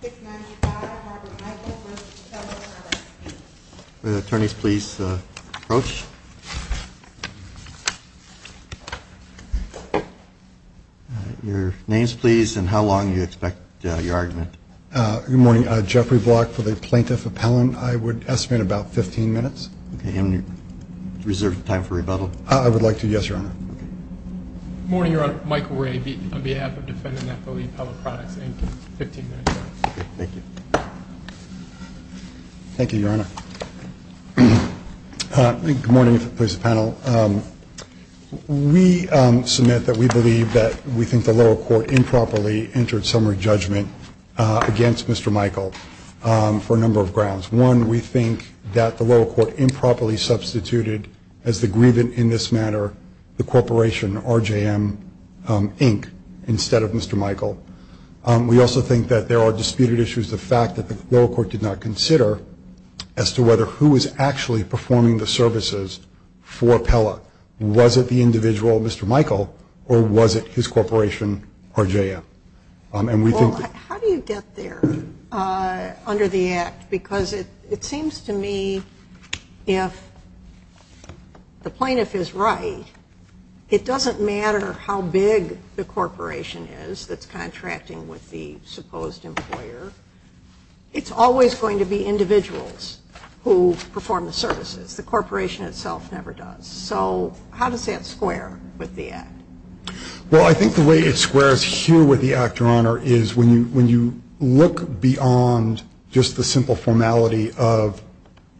695 Harvard Michael v. Pella Products. Will the attorneys please approach? Your names, please, and how long do you expect your argument? Good morning. Jeffrey Block with a plaintiff appellant. I would estimate about 15 minutes. Okay. And you reserve time for rebuttal? I would like to, yes, Your Honor. Good morning, Your Honor. Michael Wray on behalf of Defendant Apple v. Pella Products, Inc., 15 minutes. Okay. Thank you. Thank you, Your Honor. Good morning, please, panel. We submit that we believe that we think the lower court improperly entered summary judgment against Mr. Michael for a number of grounds. One, we think that the lower court improperly substituted, as the grievance in this matter, the corporation, RJM, Inc., instead of Mr. Michael. We also think that there are disputed issues, the fact that the lower court did not consider, as to whether who was actually performing the services for Pella. Was it the individual, Mr. Michael, or was it his corporation, RJM? Well, how do you get there under the Act? Because it seems to me if the plaintiff is right, it doesn't matter how big the corporation is that's contracting with the supposed employer. It's always going to be individuals who perform the services. The corporation itself never does. So how does that square with the Act? Well, I think the way it squares here with the Act, Your Honor, is when you look beyond just the simple formality of,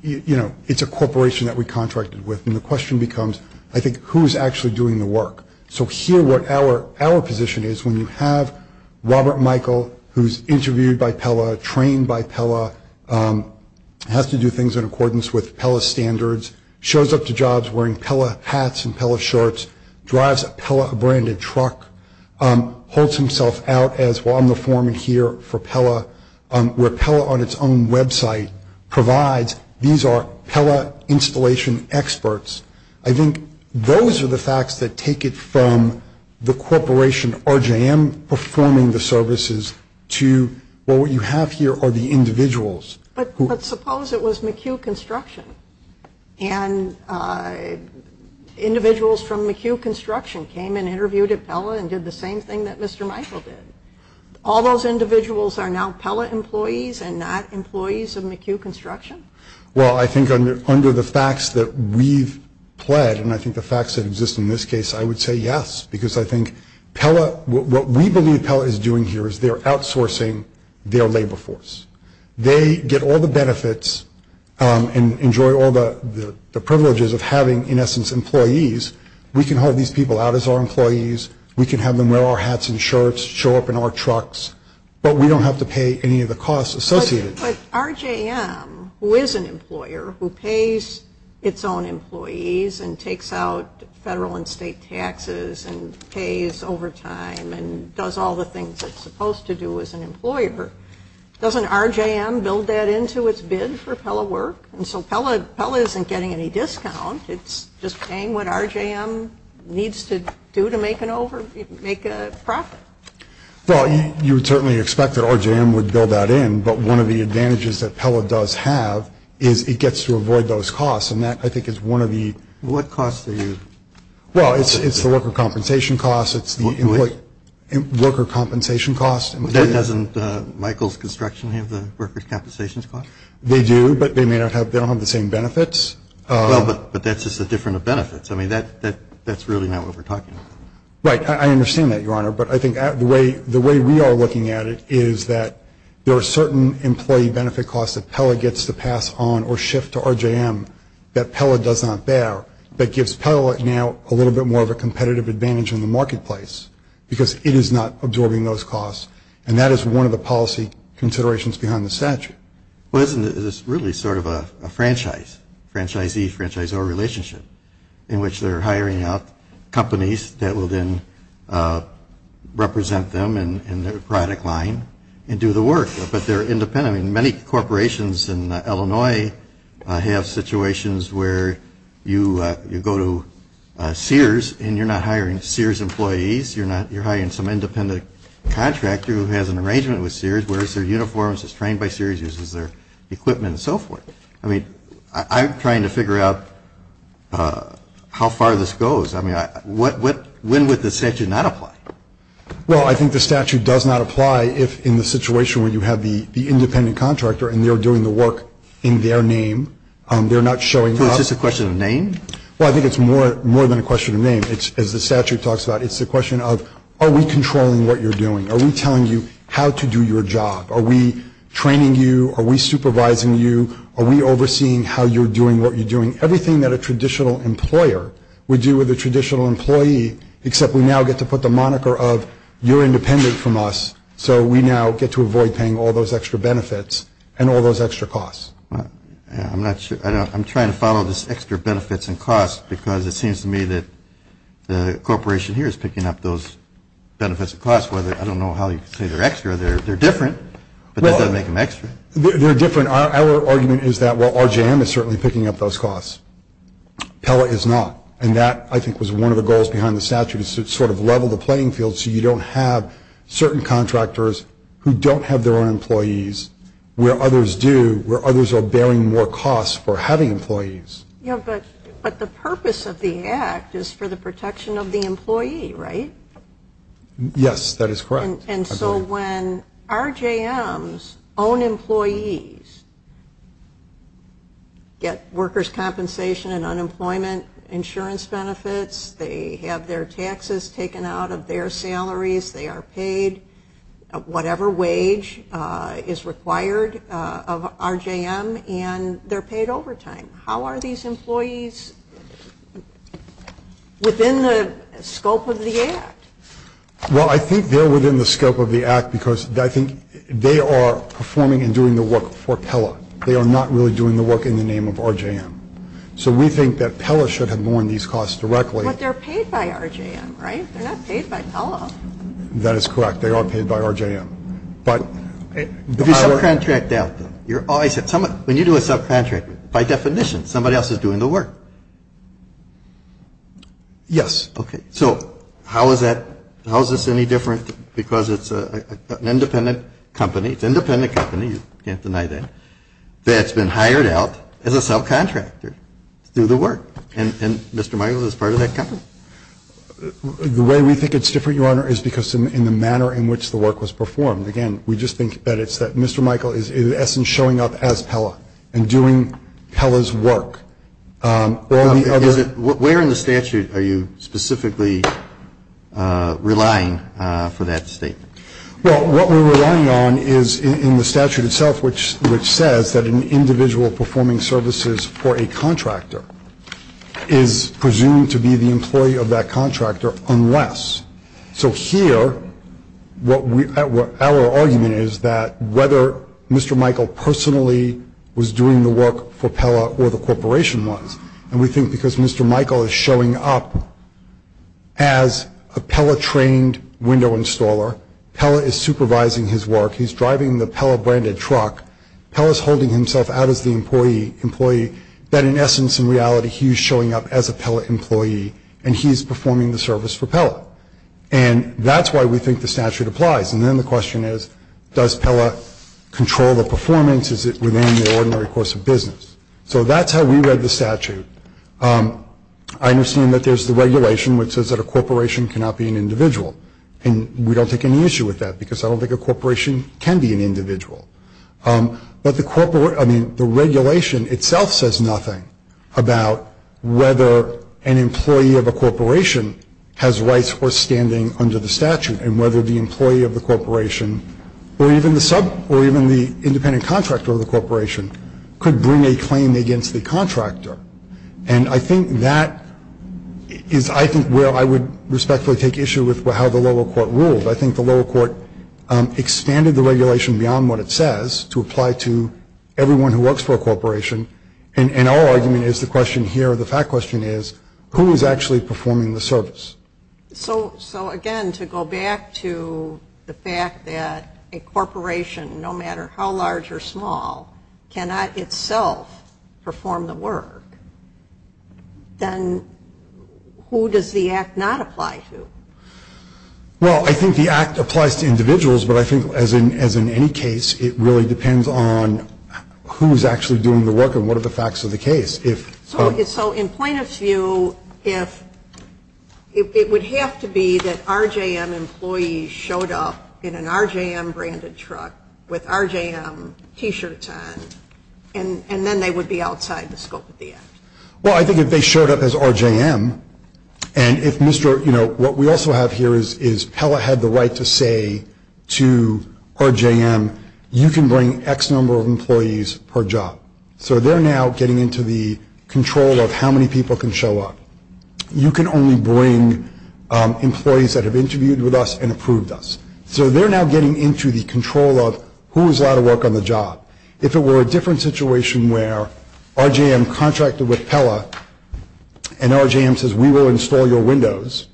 you know, it's a corporation that we contracted with, and the question becomes, I think, who's actually doing the work? So here what our position is, when you have Robert Michael, who's interviewed by Pella, trained by Pella, has to do things in accordance with Pella standards, shows up to jobs wearing Pella hats and Pella shorts, drives a Pella-branded truck, holds himself out as, well, I'm the foreman here for Pella, where Pella on its own website provides these are Pella installation experts. I think those are the facts that take it from the corporation, RJM, performing the services to, well, what you have here are the individuals. But suppose it was McHugh Construction, and individuals from McHugh Construction came and interviewed at Pella and did the same thing that Mr. Michael did. All those individuals are now Pella employees and not employees of McHugh Construction? Well, I think under the facts that we've pled, and I think the facts that exist in this case, I would say yes, because I think what we believe Pella is doing here is they're outsourcing their labor force. They get all the benefits and enjoy all the privileges of having, in essence, employees. We can hold these people out as our employees. We can have them wear our hats and shirts, show up in our trucks, but we don't have to pay any of the costs associated. But RJM, who is an employer, who pays its own employees and takes out federal and state taxes and pays overtime and does all the things it's supposed to do as an employer, doesn't RJM build that into its bid for Pella work? And so Pella isn't getting any discount. It's just paying what RJM needs to do to make a profit. Well, you would certainly expect that RJM would build that in, but one of the advantages that Pella does have is it gets to avoid those costs, and that, I think, is one of the – What costs are you – Well, it's the worker compensation costs. It's the employee – What? Worker compensation costs. Doesn't Michael's Construction have the workers' compensation costs? They do, but they may not have – they don't have the same benefits. Well, but that's just the difference of benefits. I mean, that's really not what we're talking about. Right. I understand that, Your Honor. But I think the way we are looking at it is that there are certain employee benefit costs that Pella gets to pass on or shift to RJM that Pella does not bear, but gives Pella now a little bit more of a competitive advantage in the marketplace because it is not absorbing those costs, and that is one of the policy considerations behind the statute. Well, isn't this really sort of a franchise, franchisee-franchisor relationship in which they're hiring out companies that will then represent them in their product line and do the work, but they're independent? I mean, many corporations in Illinois have situations where you go to Sears and you're not hiring Sears employees. You're hiring some independent contractor who has an arrangement with Sears, wears their uniforms, is trained by Sears, uses their equipment and so forth. I mean, I'm trying to figure out how far this goes. I mean, when would the statute not apply? Well, I think the statute does not apply if in the situation where you have the independent contractor and they're doing the work in their name. They're not showing up. So it's just a question of name? Well, I think it's more than a question of name. As the statute talks about, it's a question of are we controlling what you're doing? Are we telling you how to do your job? Are we training you? Are we supervising you? Are we overseeing how you're doing what you're doing? Everything that a traditional employer would do with a traditional employee, except we now get to put the moniker of you're independent from us, so we now get to avoid paying all those extra benefits and all those extra costs. I'm not sure. I'm trying to follow this extra benefits and costs because it seems to me that the corporation here is picking up those benefits and costs. I don't know how you can say they're extra. They're different, but that doesn't make them extra. They're different. Our argument is that, well, RJM is certainly picking up those costs. Pella is not. And that, I think, was one of the goals behind the statute is to sort of level the playing field so you don't have certain contractors who don't have their own employees where others do, where others are bearing more costs for having employees. Yeah, but the purpose of the act is for the protection of the employee, right? Yes, that is correct. And so when RJM's own employees get workers' compensation and unemployment insurance benefits, they have their taxes taken out of their salaries, they are paid whatever wage is required of RJM, and they're paid overtime. How are these employees within the scope of the act? Well, I think they're within the scope of the act because, I think, they are performing and doing the work for Pella. They are not really doing the work in the name of RJM. So we think that Pella should have borne these costs directly. But they're paid by RJM, right? They're not paid by Pella. That is correct. They are paid by RJM. If you subcontract out them, you're always at some – when you do a subcontract, by definition, somebody else is doing the work. Yes. Okay. So how is that – how is this any different? Because it's an independent company. It's an independent company. You can't deny that. That's been hired out as a subcontractor to do the work. And Mr. Michaels is part of that company. The way we think it's different, Your Honor, is because in the manner in which the work was performed. Again, we just think that it's that Mr. Michaels is, in essence, showing up as Pella and doing Pella's work. Where in the statute are you specifically relying for that statement? Well, what we're relying on is in the statute itself, which says that an individual performing services for a contractor is presumed to be the employee of that contractor unless. So here, our argument is that whether Mr. Pella or the corporation was. And we think because Mr. Michael is showing up as a Pella-trained window installer, Pella is supervising his work, he's driving the Pella-branded truck, Pella's holding himself out as the employee, that in essence and reality he's showing up as a Pella employee and he's performing the service for Pella. And that's why we think the statute applies. And then the question is, does Pella control the performance? Does Pella control the performance? Does Pella control the performance? Is it within the ordinary course of business? So that's how we read the statute. I understand that there's the regulation which says that a corporation cannot be an individual. And we don't take any issue with that because I don't think a corporation can be an individual. But the corporation – I mean, the regulation itself says nothing about whether an employee of a corporation has rights or standing under the statute and whether the employee of the corporation or even the sub or even the independent contractor of the corporation could bring a claim against the contractor. And I think that is, I think, where I would respectfully take issue with how the lower court ruled. I think the lower court expanded the regulation beyond what it says to apply to everyone who works for a corporation. And our argument is the question here, the fact question is, who is actually performing the service? So, again, to go back to the fact that a corporation, no matter how large or small, cannot itself perform the work, then who does the act not apply to? Well, I think the act applies to individuals, but I think, as in any case, it really depends on who is actually doing the work and what are the facts of the case. So in plaintiff's view, it would have to be that RJM employees showed up in an RJM-branded truck with RJM T-shirts on, and then they would be outside the scope of the act. Well, I think if they showed up as RJM, and if Mr. – you know, what we also have here is Pella had the right to say to RJM, you can bring X number of employees per job. So they're now getting into the control of how many people can show up. You can only bring employees that have interviewed with us and approved us. So they're now getting into the control of who is allowed to work on the job. If it were a different situation where RJM contracted with Pella, and RJM says, we will install your windows,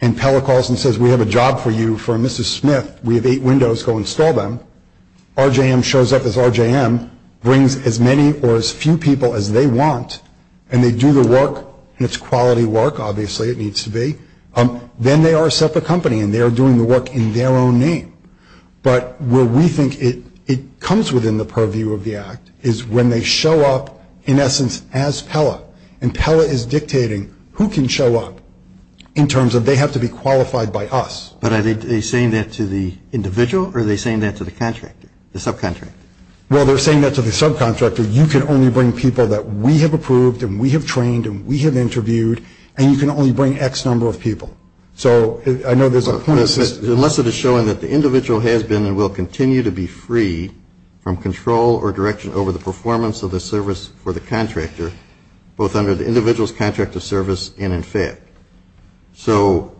and Pella calls and says, we have a job for you for Mrs. Smith. We have eight windows. Go install them. RJM shows up as RJM, brings as many or as few people as they want, and they do the work, and it's quality work. Obviously, it needs to be. Then they are a separate company, and they are doing the work in their own name. But where we think it comes within the purview of the act is when they show up, in essence, as Pella. And Pella is dictating who can show up in terms of they have to be qualified by us. But are they saying that to the individual, or are they saying that to the contractor, the subcontractor? Well, they're saying that to the subcontractor. You can only bring people that we have approved and we have trained and we have interviewed, and you can only bring X number of people. So I know there's a point. Unless it is showing that the individual has been and will continue to be free from control or direction over the performance of the service for the contractor, both under the individual's contract of service and in fact. So,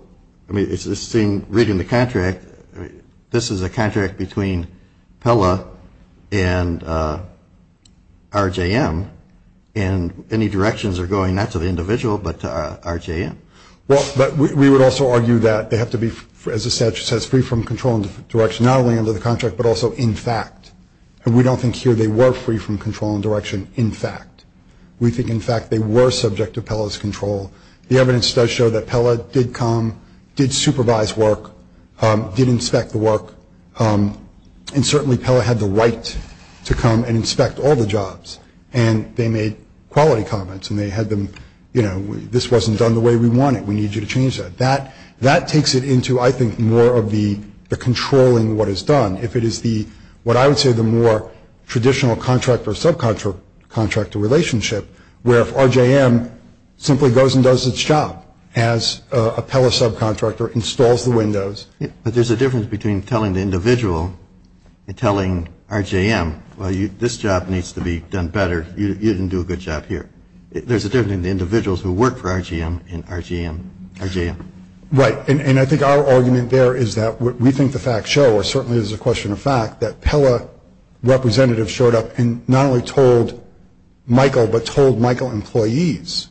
I mean, it's the same reading the contract. This is a contract between Pella and RJM, and any directions are going not to the individual but to RJM. Well, but we would also argue that they have to be, as the statute says, free from control and direction not only under the contract but also in fact. And we don't think here they were free from control and direction in fact. We think in fact they were subject to Pella's control. The evidence does show that Pella did come, did supervise work, did inspect the work, and certainly Pella had the right to come and inspect all the jobs. And they made quality comments, and they had them, you know, this wasn't done the way we wanted. We need you to change that. That takes it into, I think, more of the controlling what is done. If it is the, what I would say the more traditional contractor-subcontractor relationship where if RJM simply goes and does its job as a Pella subcontractor, installs the windows. But there's a difference between telling the individual and telling RJM, well, this job needs to be done better, you didn't do a good job here. There's a difference between the individuals who work for RJM and RJM. Right. And I think our argument there is that what we think the facts show, or certainly is a question of fact, that Pella representatives showed up and not only told Michael, but told Michael employees,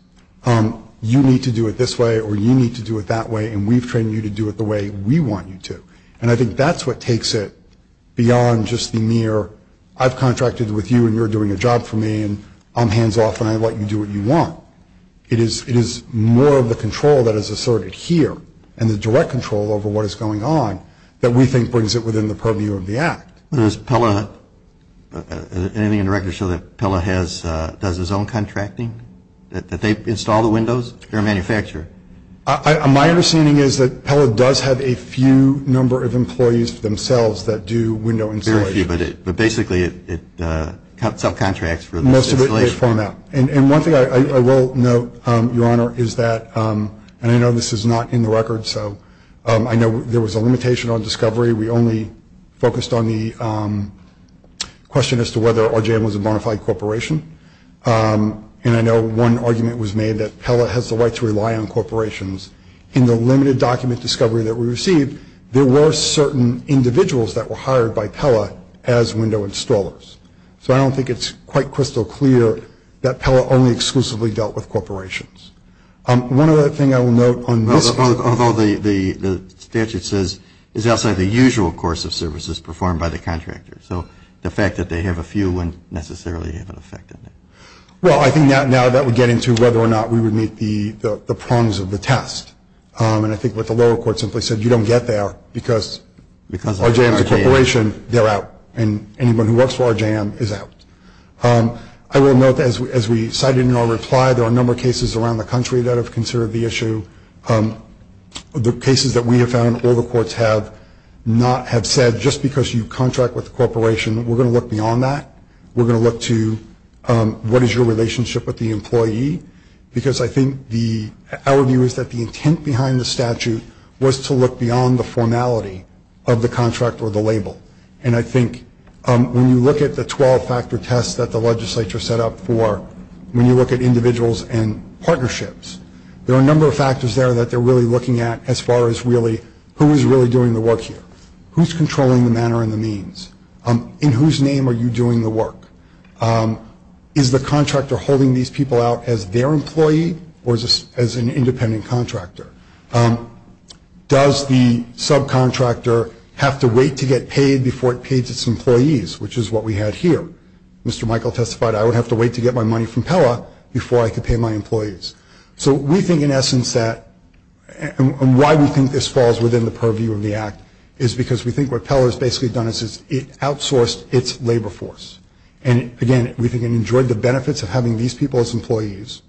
you need to do it this way or you need to do it that way and we've trained you to do it the way we want you to. And I think that's what takes it beyond just the mere I've contracted with you and you're doing a job for me and I'm hands off and I let you do what you want. It is more of the control that is asserted here and the direct control over what is going on that we think brings it within the purview of the act. Does Pella, anything in the record show that Pella does its own contracting? That they install the windows? They're a manufacturer. My understanding is that Pella does have a few number of employees themselves that do window installation. Very few, but basically it subcontracts for the installation. Most of it they form out. And one thing I will note, Your Honor, is that, and I know this is not in the record, so I know there was a limitation on discovery. We only focused on the question as to whether RJM was a bona fide corporation. And I know one argument was made that Pella has the right to rely on corporations. In the limited document discovery that we received, there were certain individuals that were hired by Pella as window installers. So I don't think it's quite crystal clear that Pella only exclusively dealt with corporations. One other thing I will note on this. Although the statute says it's outside the usual course of services performed by the contractor. So the fact that they have a few wouldn't necessarily have an effect on that. Well, I think now that would get into whether or not we would meet the prongs of the test. And I think what the lower court simply said, you don't get there because RJM is a corporation, they're out. And anyone who works for RJM is out. I will note, as we cited in our reply, there are a number of cases around the country that have considered the issue. The cases that we have found all the courts have not have said, just because you contract with a corporation, we're going to look beyond that. We're going to look to what is your relationship with the employee. Because I think our view is that the intent behind the statute was to look beyond the formality of the contract or the label. And I think when you look at the 12-factor test that the legislature set up for, when you look at individuals and partnerships, there are a number of factors there that they're really looking at as far as who is really doing the work here. Who's controlling the manner and the means? In whose name are you doing the work? Is the contractor holding these people out as their employee or as an independent contractor? Does the subcontractor have to wait to get paid before it pays its employees, which is what we had here? Mr. Michael testified, I would have to wait to get my money from Pella before I could pay my employees. So we think in essence that, and why we think this falls within the purview of the act, is because we think what Pella has basically done is it outsourced its labor force. And, again, we think it enjoyed the benefits of having these people as employees,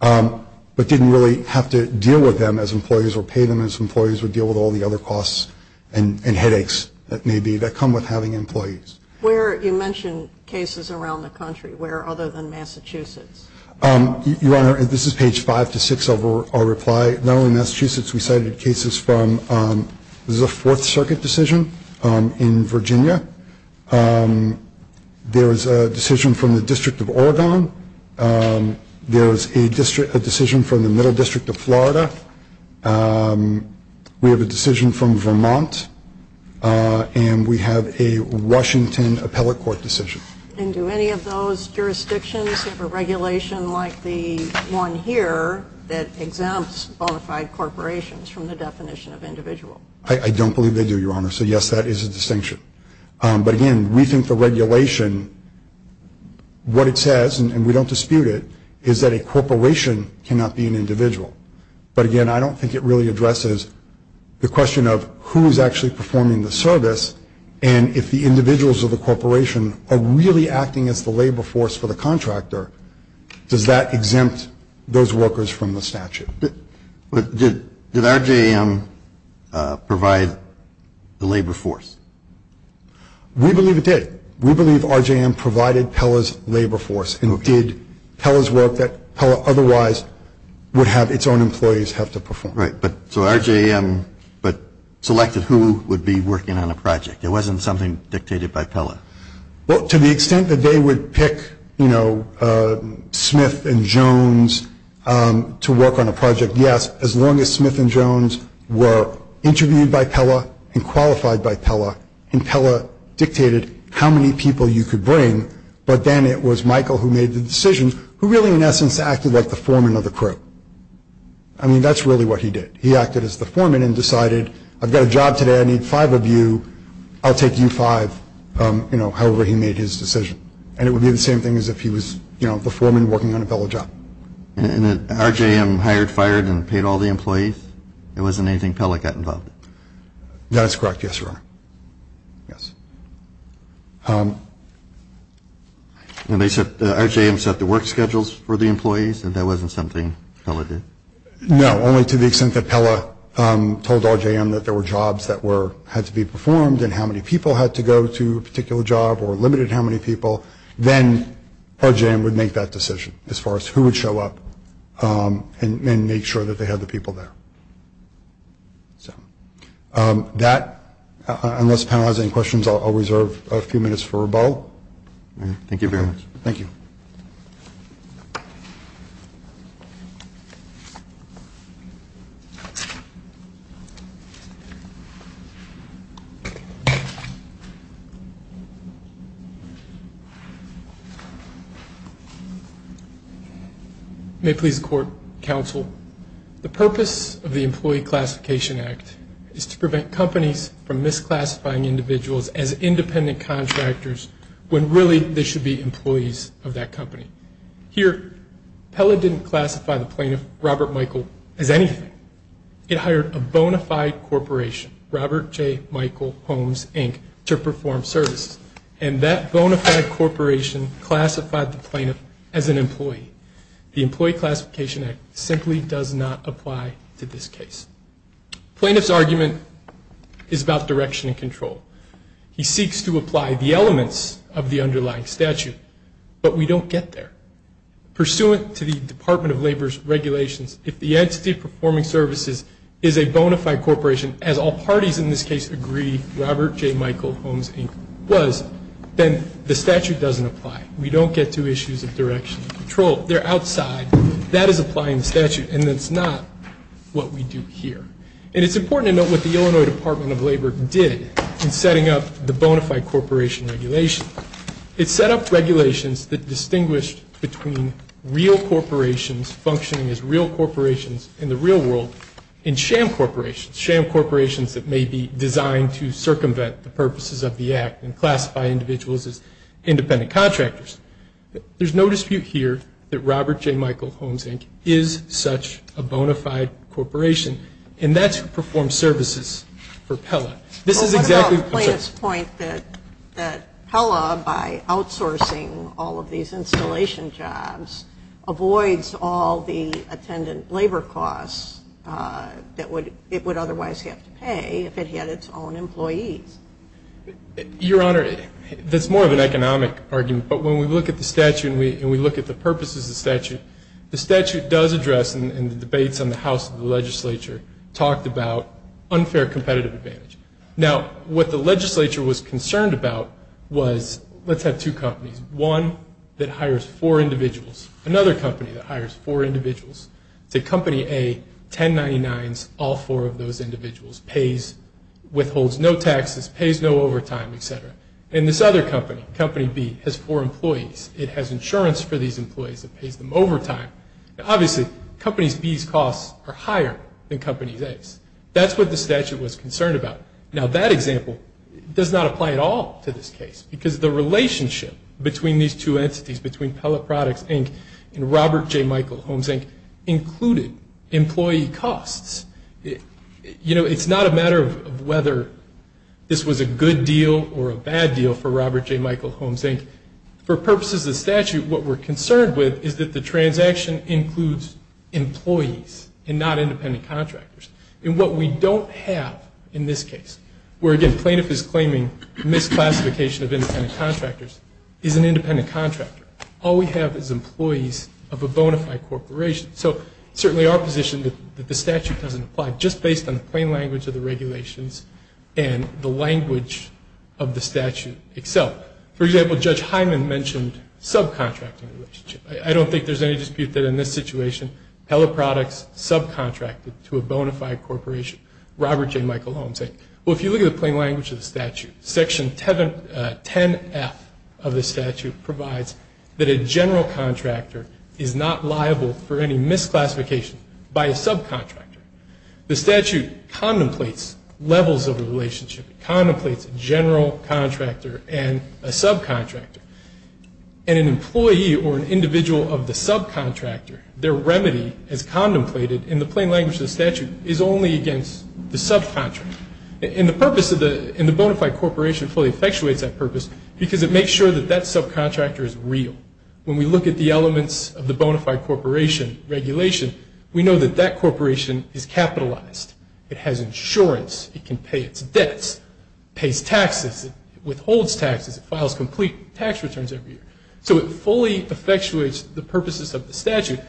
but didn't really have to deal with them as employees or pay them as employees or deal with all the other costs and headaches that may be that come with having employees. Where, you mentioned cases around the country. Where other than Massachusetts? Your Honor, this is page 5 to 6 of our reply. Not only in Massachusetts, we cited cases from, this is a Fourth Circuit decision in Virginia. There is a decision from the District of Oregon. There is a decision from the Middle District of Florida. We have a decision from Vermont. And we have a Washington Appellate Court decision. And do any of those jurisdictions have a regulation like the one here that exempts bona fide corporations from the definition of individual? I don't believe they do, Your Honor. So, yes, that is a distinction. But, again, we think the regulation, what it says, and we don't dispute it, is that a corporation cannot be an individual. But, again, I don't think it really addresses the question of who is actually performing the service and if the individuals of the corporation are really acting as the labor force for the contractor, does that exempt those workers from the statute? Did RJM provide the labor force? We believe it did. We believe RJM provided Pella's labor force and did Pella's work that Pella otherwise would have its own employees have to perform. Right. So RJM selected who would be working on a project. It wasn't something dictated by Pella. Well, to the extent that they would pick, you know, Smith and Jones to work on a project, yes, as long as Smith and Jones were interviewed by Pella and qualified by Pella and Pella dictated how many people you could bring, but then it was Michael who made the decision who really, in essence, acted like the foreman of the crew. I mean, that's really what he did. He acted as the foreman and decided, I've got a job today, I need five of you, I'll take you five, you know, however he made his decision. And it would be the same thing as if he was, you know, the foreman working on a Pella job. And then RJM hired, fired, and paid all the employees? It wasn't anything Pella got involved in? That is correct, yes, Your Honor. Yes. And RJM set the work schedules for the employees and that wasn't something Pella did? No, only to the extent that Pella told RJM that there were jobs that had to be performed and how many people had to go to a particular job or limited how many people, then RJM would make that decision as far as who would show up and make sure that they had the people there. So that, unless the panel has any questions, I'll reserve a few minutes for a bow. Thank you very much. Thank you. May it please the Court, Counsel, the purpose of the Employee Classification Act is to prevent companies from misclassifying individuals as independent contractors when really they should be employees of that company. Here, Pella didn't classify the plaintiff, Robert Michael, as anything. It hired a bona fide corporation, Robert J. Michael Holmes, Inc., to perform services. And that bona fide corporation classified the plaintiff as an employee. The Employee Classification Act simply does not apply to this case. Plaintiff's argument is about direction and control. He seeks to apply the elements of the underlying statute, but we don't get there. Pursuant to the Department of Labor's regulations, if the entity performing services is a bona fide corporation, as all parties in this case agree Robert J. Michael Holmes, Inc., was, then the statute doesn't apply. We don't get to issues of direction and control. They're outside. That is applying the statute, and that's not what we do here. And it's important to note what the Illinois Department of Labor did in setting up the bona fide corporation regulation. It set up regulations that distinguished between real corporations functioning as real corporations in the real world and sham corporations, sham corporations that may be designed to circumvent the purposes of the act and classify individuals as independent contractors. There's no dispute here that Robert J. Michael Holmes, Inc. is such a bona fide corporation, and that's who performs services for Pella. This is exactly the point that Pella, by outsourcing all of these installation jobs, avoids all the attendant labor costs that it would otherwise have to pay if it had its own employees. Your Honor, that's more of an economic argument, but when we look at the statute and we look at the purposes of the statute, the statute does address, and the debates in the House and the legislature talked about unfair competitive advantage. Now, what the legislature was concerned about was let's have two companies, one that hires four individuals, another company that hires four individuals. Say Company A, 1099s, all four of those individuals, pays, withholds no taxes, pays no overtime, et cetera. And this other company, Company B, has four employees. It has insurance for these employees. It pays them overtime. Now, obviously, Company B's costs are higher than Company A's. That's what the statute was concerned about. Now, that example does not apply at all to this case because the relationship between these two entities, between Pellet Products, Inc. and Robert J. Michael Homes, Inc., included employee costs. You know, it's not a matter of whether this was a good deal or a bad deal for Robert J. Michael Homes, Inc. For purposes of the statute, what we're concerned with is that the transaction includes employees and not independent contractors. And what we don't have in this case, where, again, All we have is employees of a bona fide corporation. So it's certainly our position that the statute doesn't apply, just based on the plain language of the regulations and the language of the statute itself. For example, Judge Hyman mentioned subcontracting relationship. I don't think there's any dispute that, in this situation, Pellet Products subcontracted to a bona fide corporation. Robert J. Michael Homes, Inc. Well, if you look at the plain language of the statute, Section 10F of the statute provides that a general contractor is not liable for any misclassification by a subcontractor. The statute contemplates levels of a relationship. It contemplates a general contractor and a subcontractor. And an employee or an individual of the subcontractor, their remedy, as contemplated in the plain language of the statute, is only against the subcontractor. And the purpose of the bona fide corporation fully effectuates that purpose because it makes sure that that subcontractor is real. When we look at the elements of the bona fide corporation regulation, we know that that corporation is capitalized. It has insurance. It can pay its debts. It pays taxes. It withholds taxes. It files complete tax returns every year. So it fully effectuates the purposes of the statute.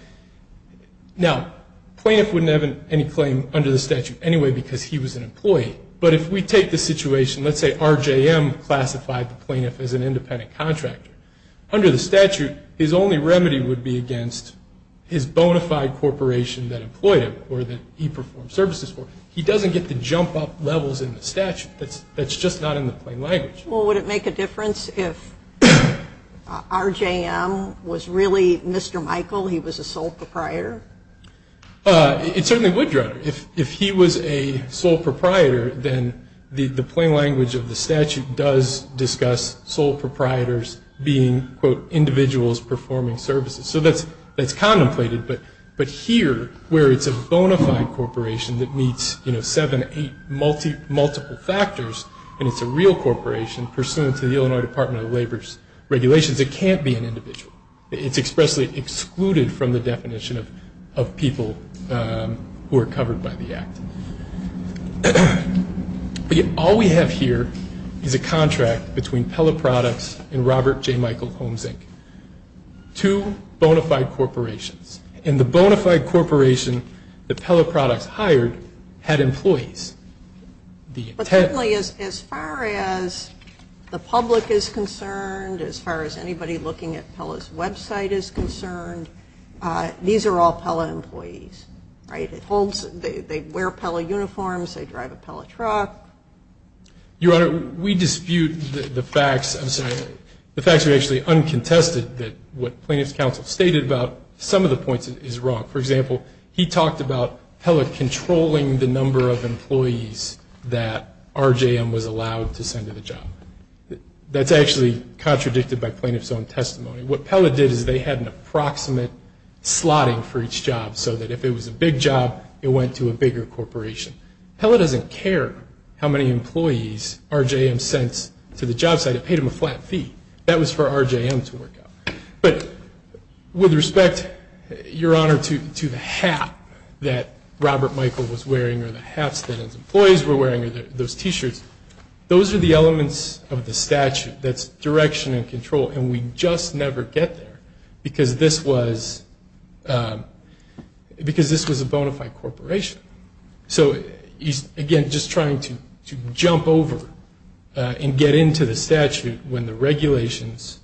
Now, plaintiff wouldn't have any claim under the statute anyway because he was an employee. But if we take the situation, let's say RJM classified the plaintiff as an independent contractor. Under the statute, his only remedy would be against his bona fide corporation that employed him or that he performed services for. He doesn't get to jump up levels in the statute. That's just not in the plain language. Well, would it make a difference if RJM was really Mr. Michael, he was a sole proprietor? It certainly would, Your Honor. If he was a sole proprietor, then the plain language of the statute does discuss sole proprietors being, quote, individuals performing services. So that's contemplated. But here, where it's a bona fide corporation that meets, you know, seven, eight, multiple factors and it's a real corporation pursuant to the Illinois Department of Labor's regulations, it can't be an individual. It's expressly excluded from the definition of people who are covered by the act. All we have here is a contract between Pella Products and Robert J. Michael Homes, Inc., two bona fide corporations. And the bona fide corporation that Pella Products hired had employees. But certainly as far as the public is concerned, as far as anybody looking at Pella's website is concerned, these are all Pella employees, right? They wear Pella uniforms. They drive a Pella truck. Your Honor, we dispute the facts. I'm sorry. The facts are actually uncontested that what plaintiff's counsel stated about some of the points is wrong. For example, he talked about Pella controlling the number of employees that RJM was allowed to send to the job. That's actually contradicted by plaintiff's own testimony. What Pella did is they had an approximate slotting for each job so that if it was a big job, it went to a bigger corporation. Pella doesn't care how many employees RJM sends to the job site. They paid him a flat fee. That was for RJM to work out. But with respect, Your Honor, to the hat that Robert Michael was wearing or the hats that his employees were wearing or those T-shirts, those are the elements of the statute that's direction and control, and we just never get there because this was a bona fide corporation. So he's, again, just trying to jump over and get into the statute when the regulations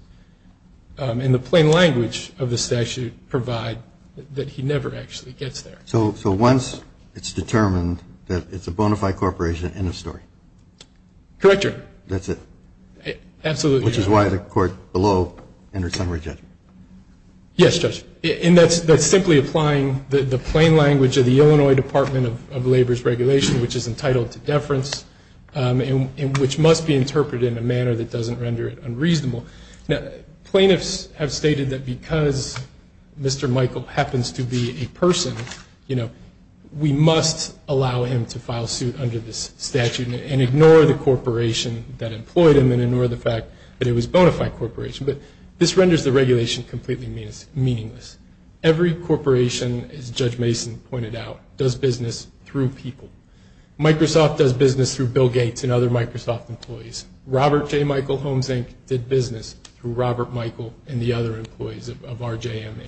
and the plain language of the statute provide that he never actually gets there. So once it's determined that it's a bona fide corporation, end of story? Correct, Your Honor. That's it? Absolutely, Your Honor. Which is why the court below entered summary judgment? Yes, Judge. And that's simply applying the plain language of the Illinois Department of Labor's regulation, which is entitled to deference and which must be interpreted in a manner that doesn't render it unreasonable. Plaintiffs have stated that because Mr. Michael happens to be a person, you know, we must allow him to file suit under this statute and ignore the corporation that employed him and ignore the fact that it was a bona fide corporation. But this renders the regulation completely meaningless. Every corporation, as Judge Mason pointed out, does business through people. Microsoft does business through Bill Gates and other Microsoft employees. Robert J. Michael Homes, Inc. did business through Robert Michael and the other employees of RJMA.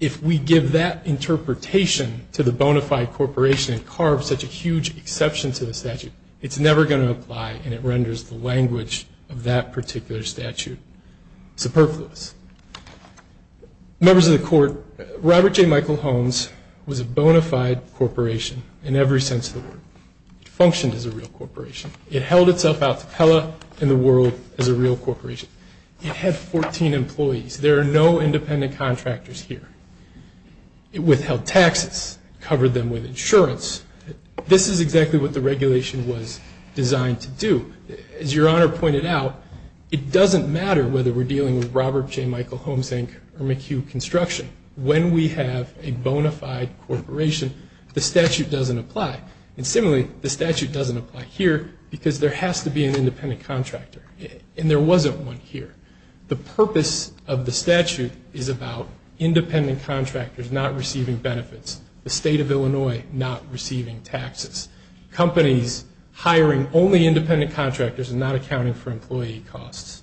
If we give that interpretation to the bona fide corporation and carve such a huge exception to the statute, it's never going to apply and it renders the language of that particular statute superfluous. Members of the court, Robert J. Michael Homes was a bona fide corporation in every sense of the word. It functioned as a real corporation. It held itself out to Pella and the world as a real corporation. It had 14 employees. There are no independent contractors here. It withheld taxes, covered them with insurance. This is exactly what the regulation was designed to do. As Your Honor pointed out, it doesn't matter whether we're dealing with Robert J. Michael Homes, Inc. or McHugh Construction. When we have a bona fide corporation, the statute doesn't apply. And similarly, the statute doesn't apply here because there has to be an independent contractor. And there wasn't one here. The purpose of the statute is about independent contractors not receiving benefits, the state of Illinois not receiving taxes, companies hiring only independent contractors and not accounting for employee costs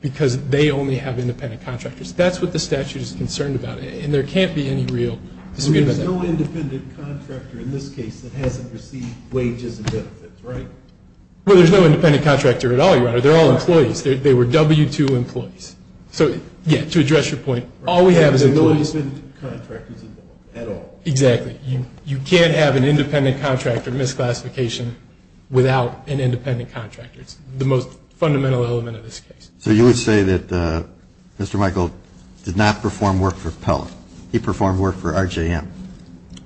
because they only have independent contractors. That's what the statute is concerned about, and there can't be any real dispute about that. There's no independent contractor in this case that hasn't received wages and benefits, right? Well, there's no independent contractor at all, Your Honor. They're all employees. They were W-2 employees. So, yeah, to address your point, all we have is employees. There's no independent contractors at all. Exactly. You can't have an independent contractor misclassification without an independent contractor. It's the most fundamental element of this case. So you would say that Mr. Michael did not perform work for Pellett. He performed work for RJM.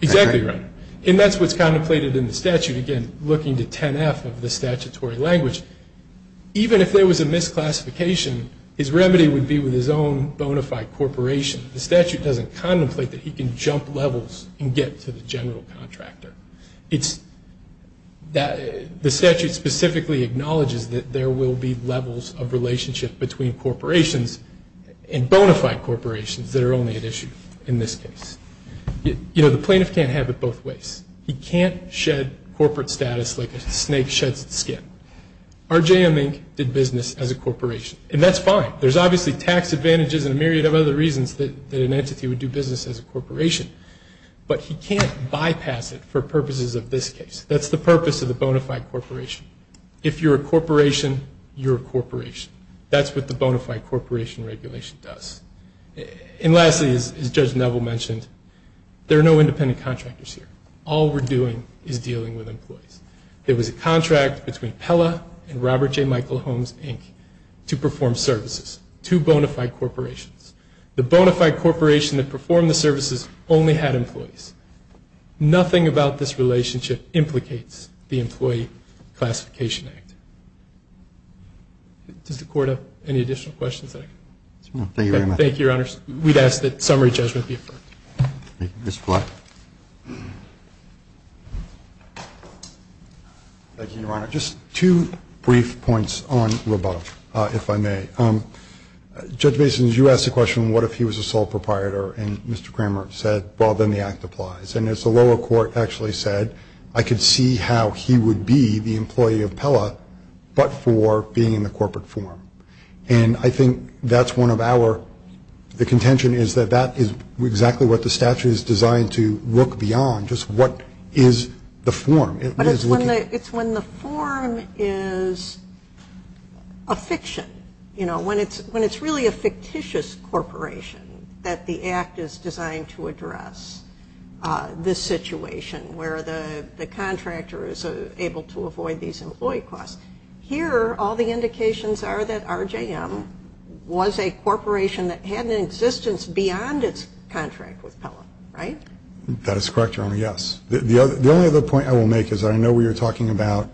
Exactly, Your Honor. And that's what's contemplated in the statute. Again, looking to 10-F of the statutory language, even if there was a misclassification, his remedy would be with his own bona fide corporation. The statute doesn't contemplate that he can jump levels and get to the general contractor. The statute specifically acknowledges that there will be levels of relationship between corporations and bona fide corporations that are only at issue in this case. You know, the plaintiff can't have it both ways. He can't shed corporate status like a snake sheds its skin. RJM, Inc. did business as a corporation, and that's fine. There's obviously tax advantages and a myriad of other reasons that an entity would do business as a corporation, but he can't bypass it for purposes of this case. That's the purpose of the bona fide corporation. If you're a corporation, you're a corporation. That's what the bona fide corporation regulation does. And lastly, as Judge Neville mentioned, there are no independent contractors here. All we're doing is dealing with employees. There was a contract between Pella and Robert J. Michael Holmes, Inc. to perform services. Two bona fide corporations. The bona fide corporation that performed the services only had employees. Nothing about this relationship implicates the Employee Classification Act. Does the Court have any additional questions that I can answer? No, thank you very much. Thank you, Your Honors. We'd ask that summary judgment be affirmed. Mr. Fleck. Thank you, Your Honor. Just two brief points on Raboff, if I may. Judge Basin, you asked the question, what if he was a sole proprietor? And Mr. Kramer said, well, then the act applies. And as the lower court actually said, I could see how he would be the employee of Pella but for being in the corporate form. And I think that's one of our, the contention is that that is exactly what the statute is designed to look beyond, just what is the form? It's when the form is a fiction. You know, when it's really a fictitious corporation that the act is designed to address this situation where the contractor is able to avoid these employee costs. Here, all the indications are that RJM was a corporation that had an existence beyond its contract with Pella, right? That is correct, Your Honor, yes. The only other point I will make is I know we were talking about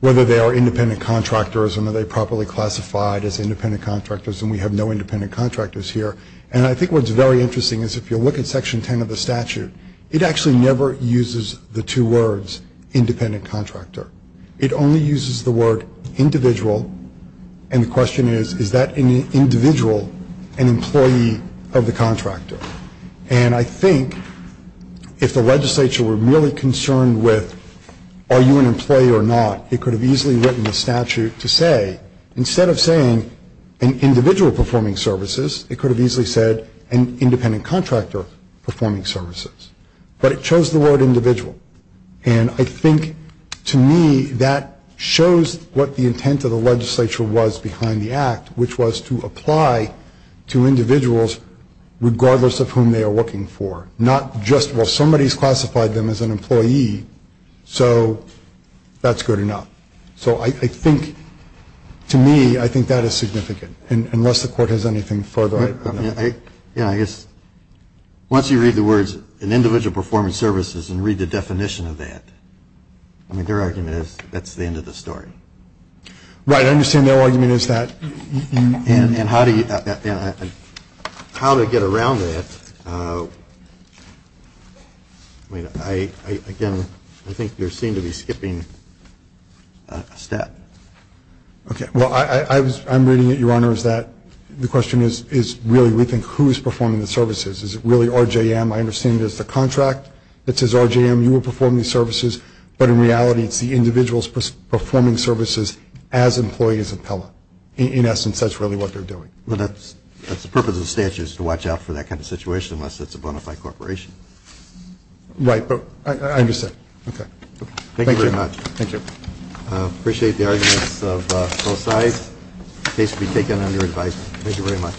whether they are independent contractors and are they properly classified as independent contractors, and we have no independent contractors here. And I think what's very interesting is if you look at Section 10 of the statute, it actually never uses the two words independent contractor. It only uses the word individual, and the question is, is that individual an employee of the contractor? And I think if the legislature were merely concerned with are you an employee or not, it could have easily written the statute to say, instead of saying an individual performing services, it could have easily said an independent contractor performing services. But it chose the word individual. And I think, to me, that shows what the intent of the legislature was behind the act, which was to apply to individuals regardless of whom they are working for, not just, well, somebody has classified them as an employee, so that's good enough. So I think, to me, I think that is significant, unless the Court has anything further. I guess once you read the words an individual performing services and read the definition of that, I mean, their argument is that's the end of the story. Right. I understand their argument is that. And how to get around that, I mean, again, I think you seem to be skipping a step. Okay. Well, I'm reading it, Your Honor, is that the question is really we think who is performing the services. Is it really RJM? I understand there's the contract that says RJM, you will perform these services, but in reality it's the individuals performing services as employees of Pella. In essence, that's really what they're doing. Well, that's the purpose of the statute is to watch out for that kind of situation, unless it's a bona fide corporation. Right. But I understand. Okay. Thank you very much. Thank you. Appreciate the arguments of both sides. The case will be taken under advice. Thank you very much.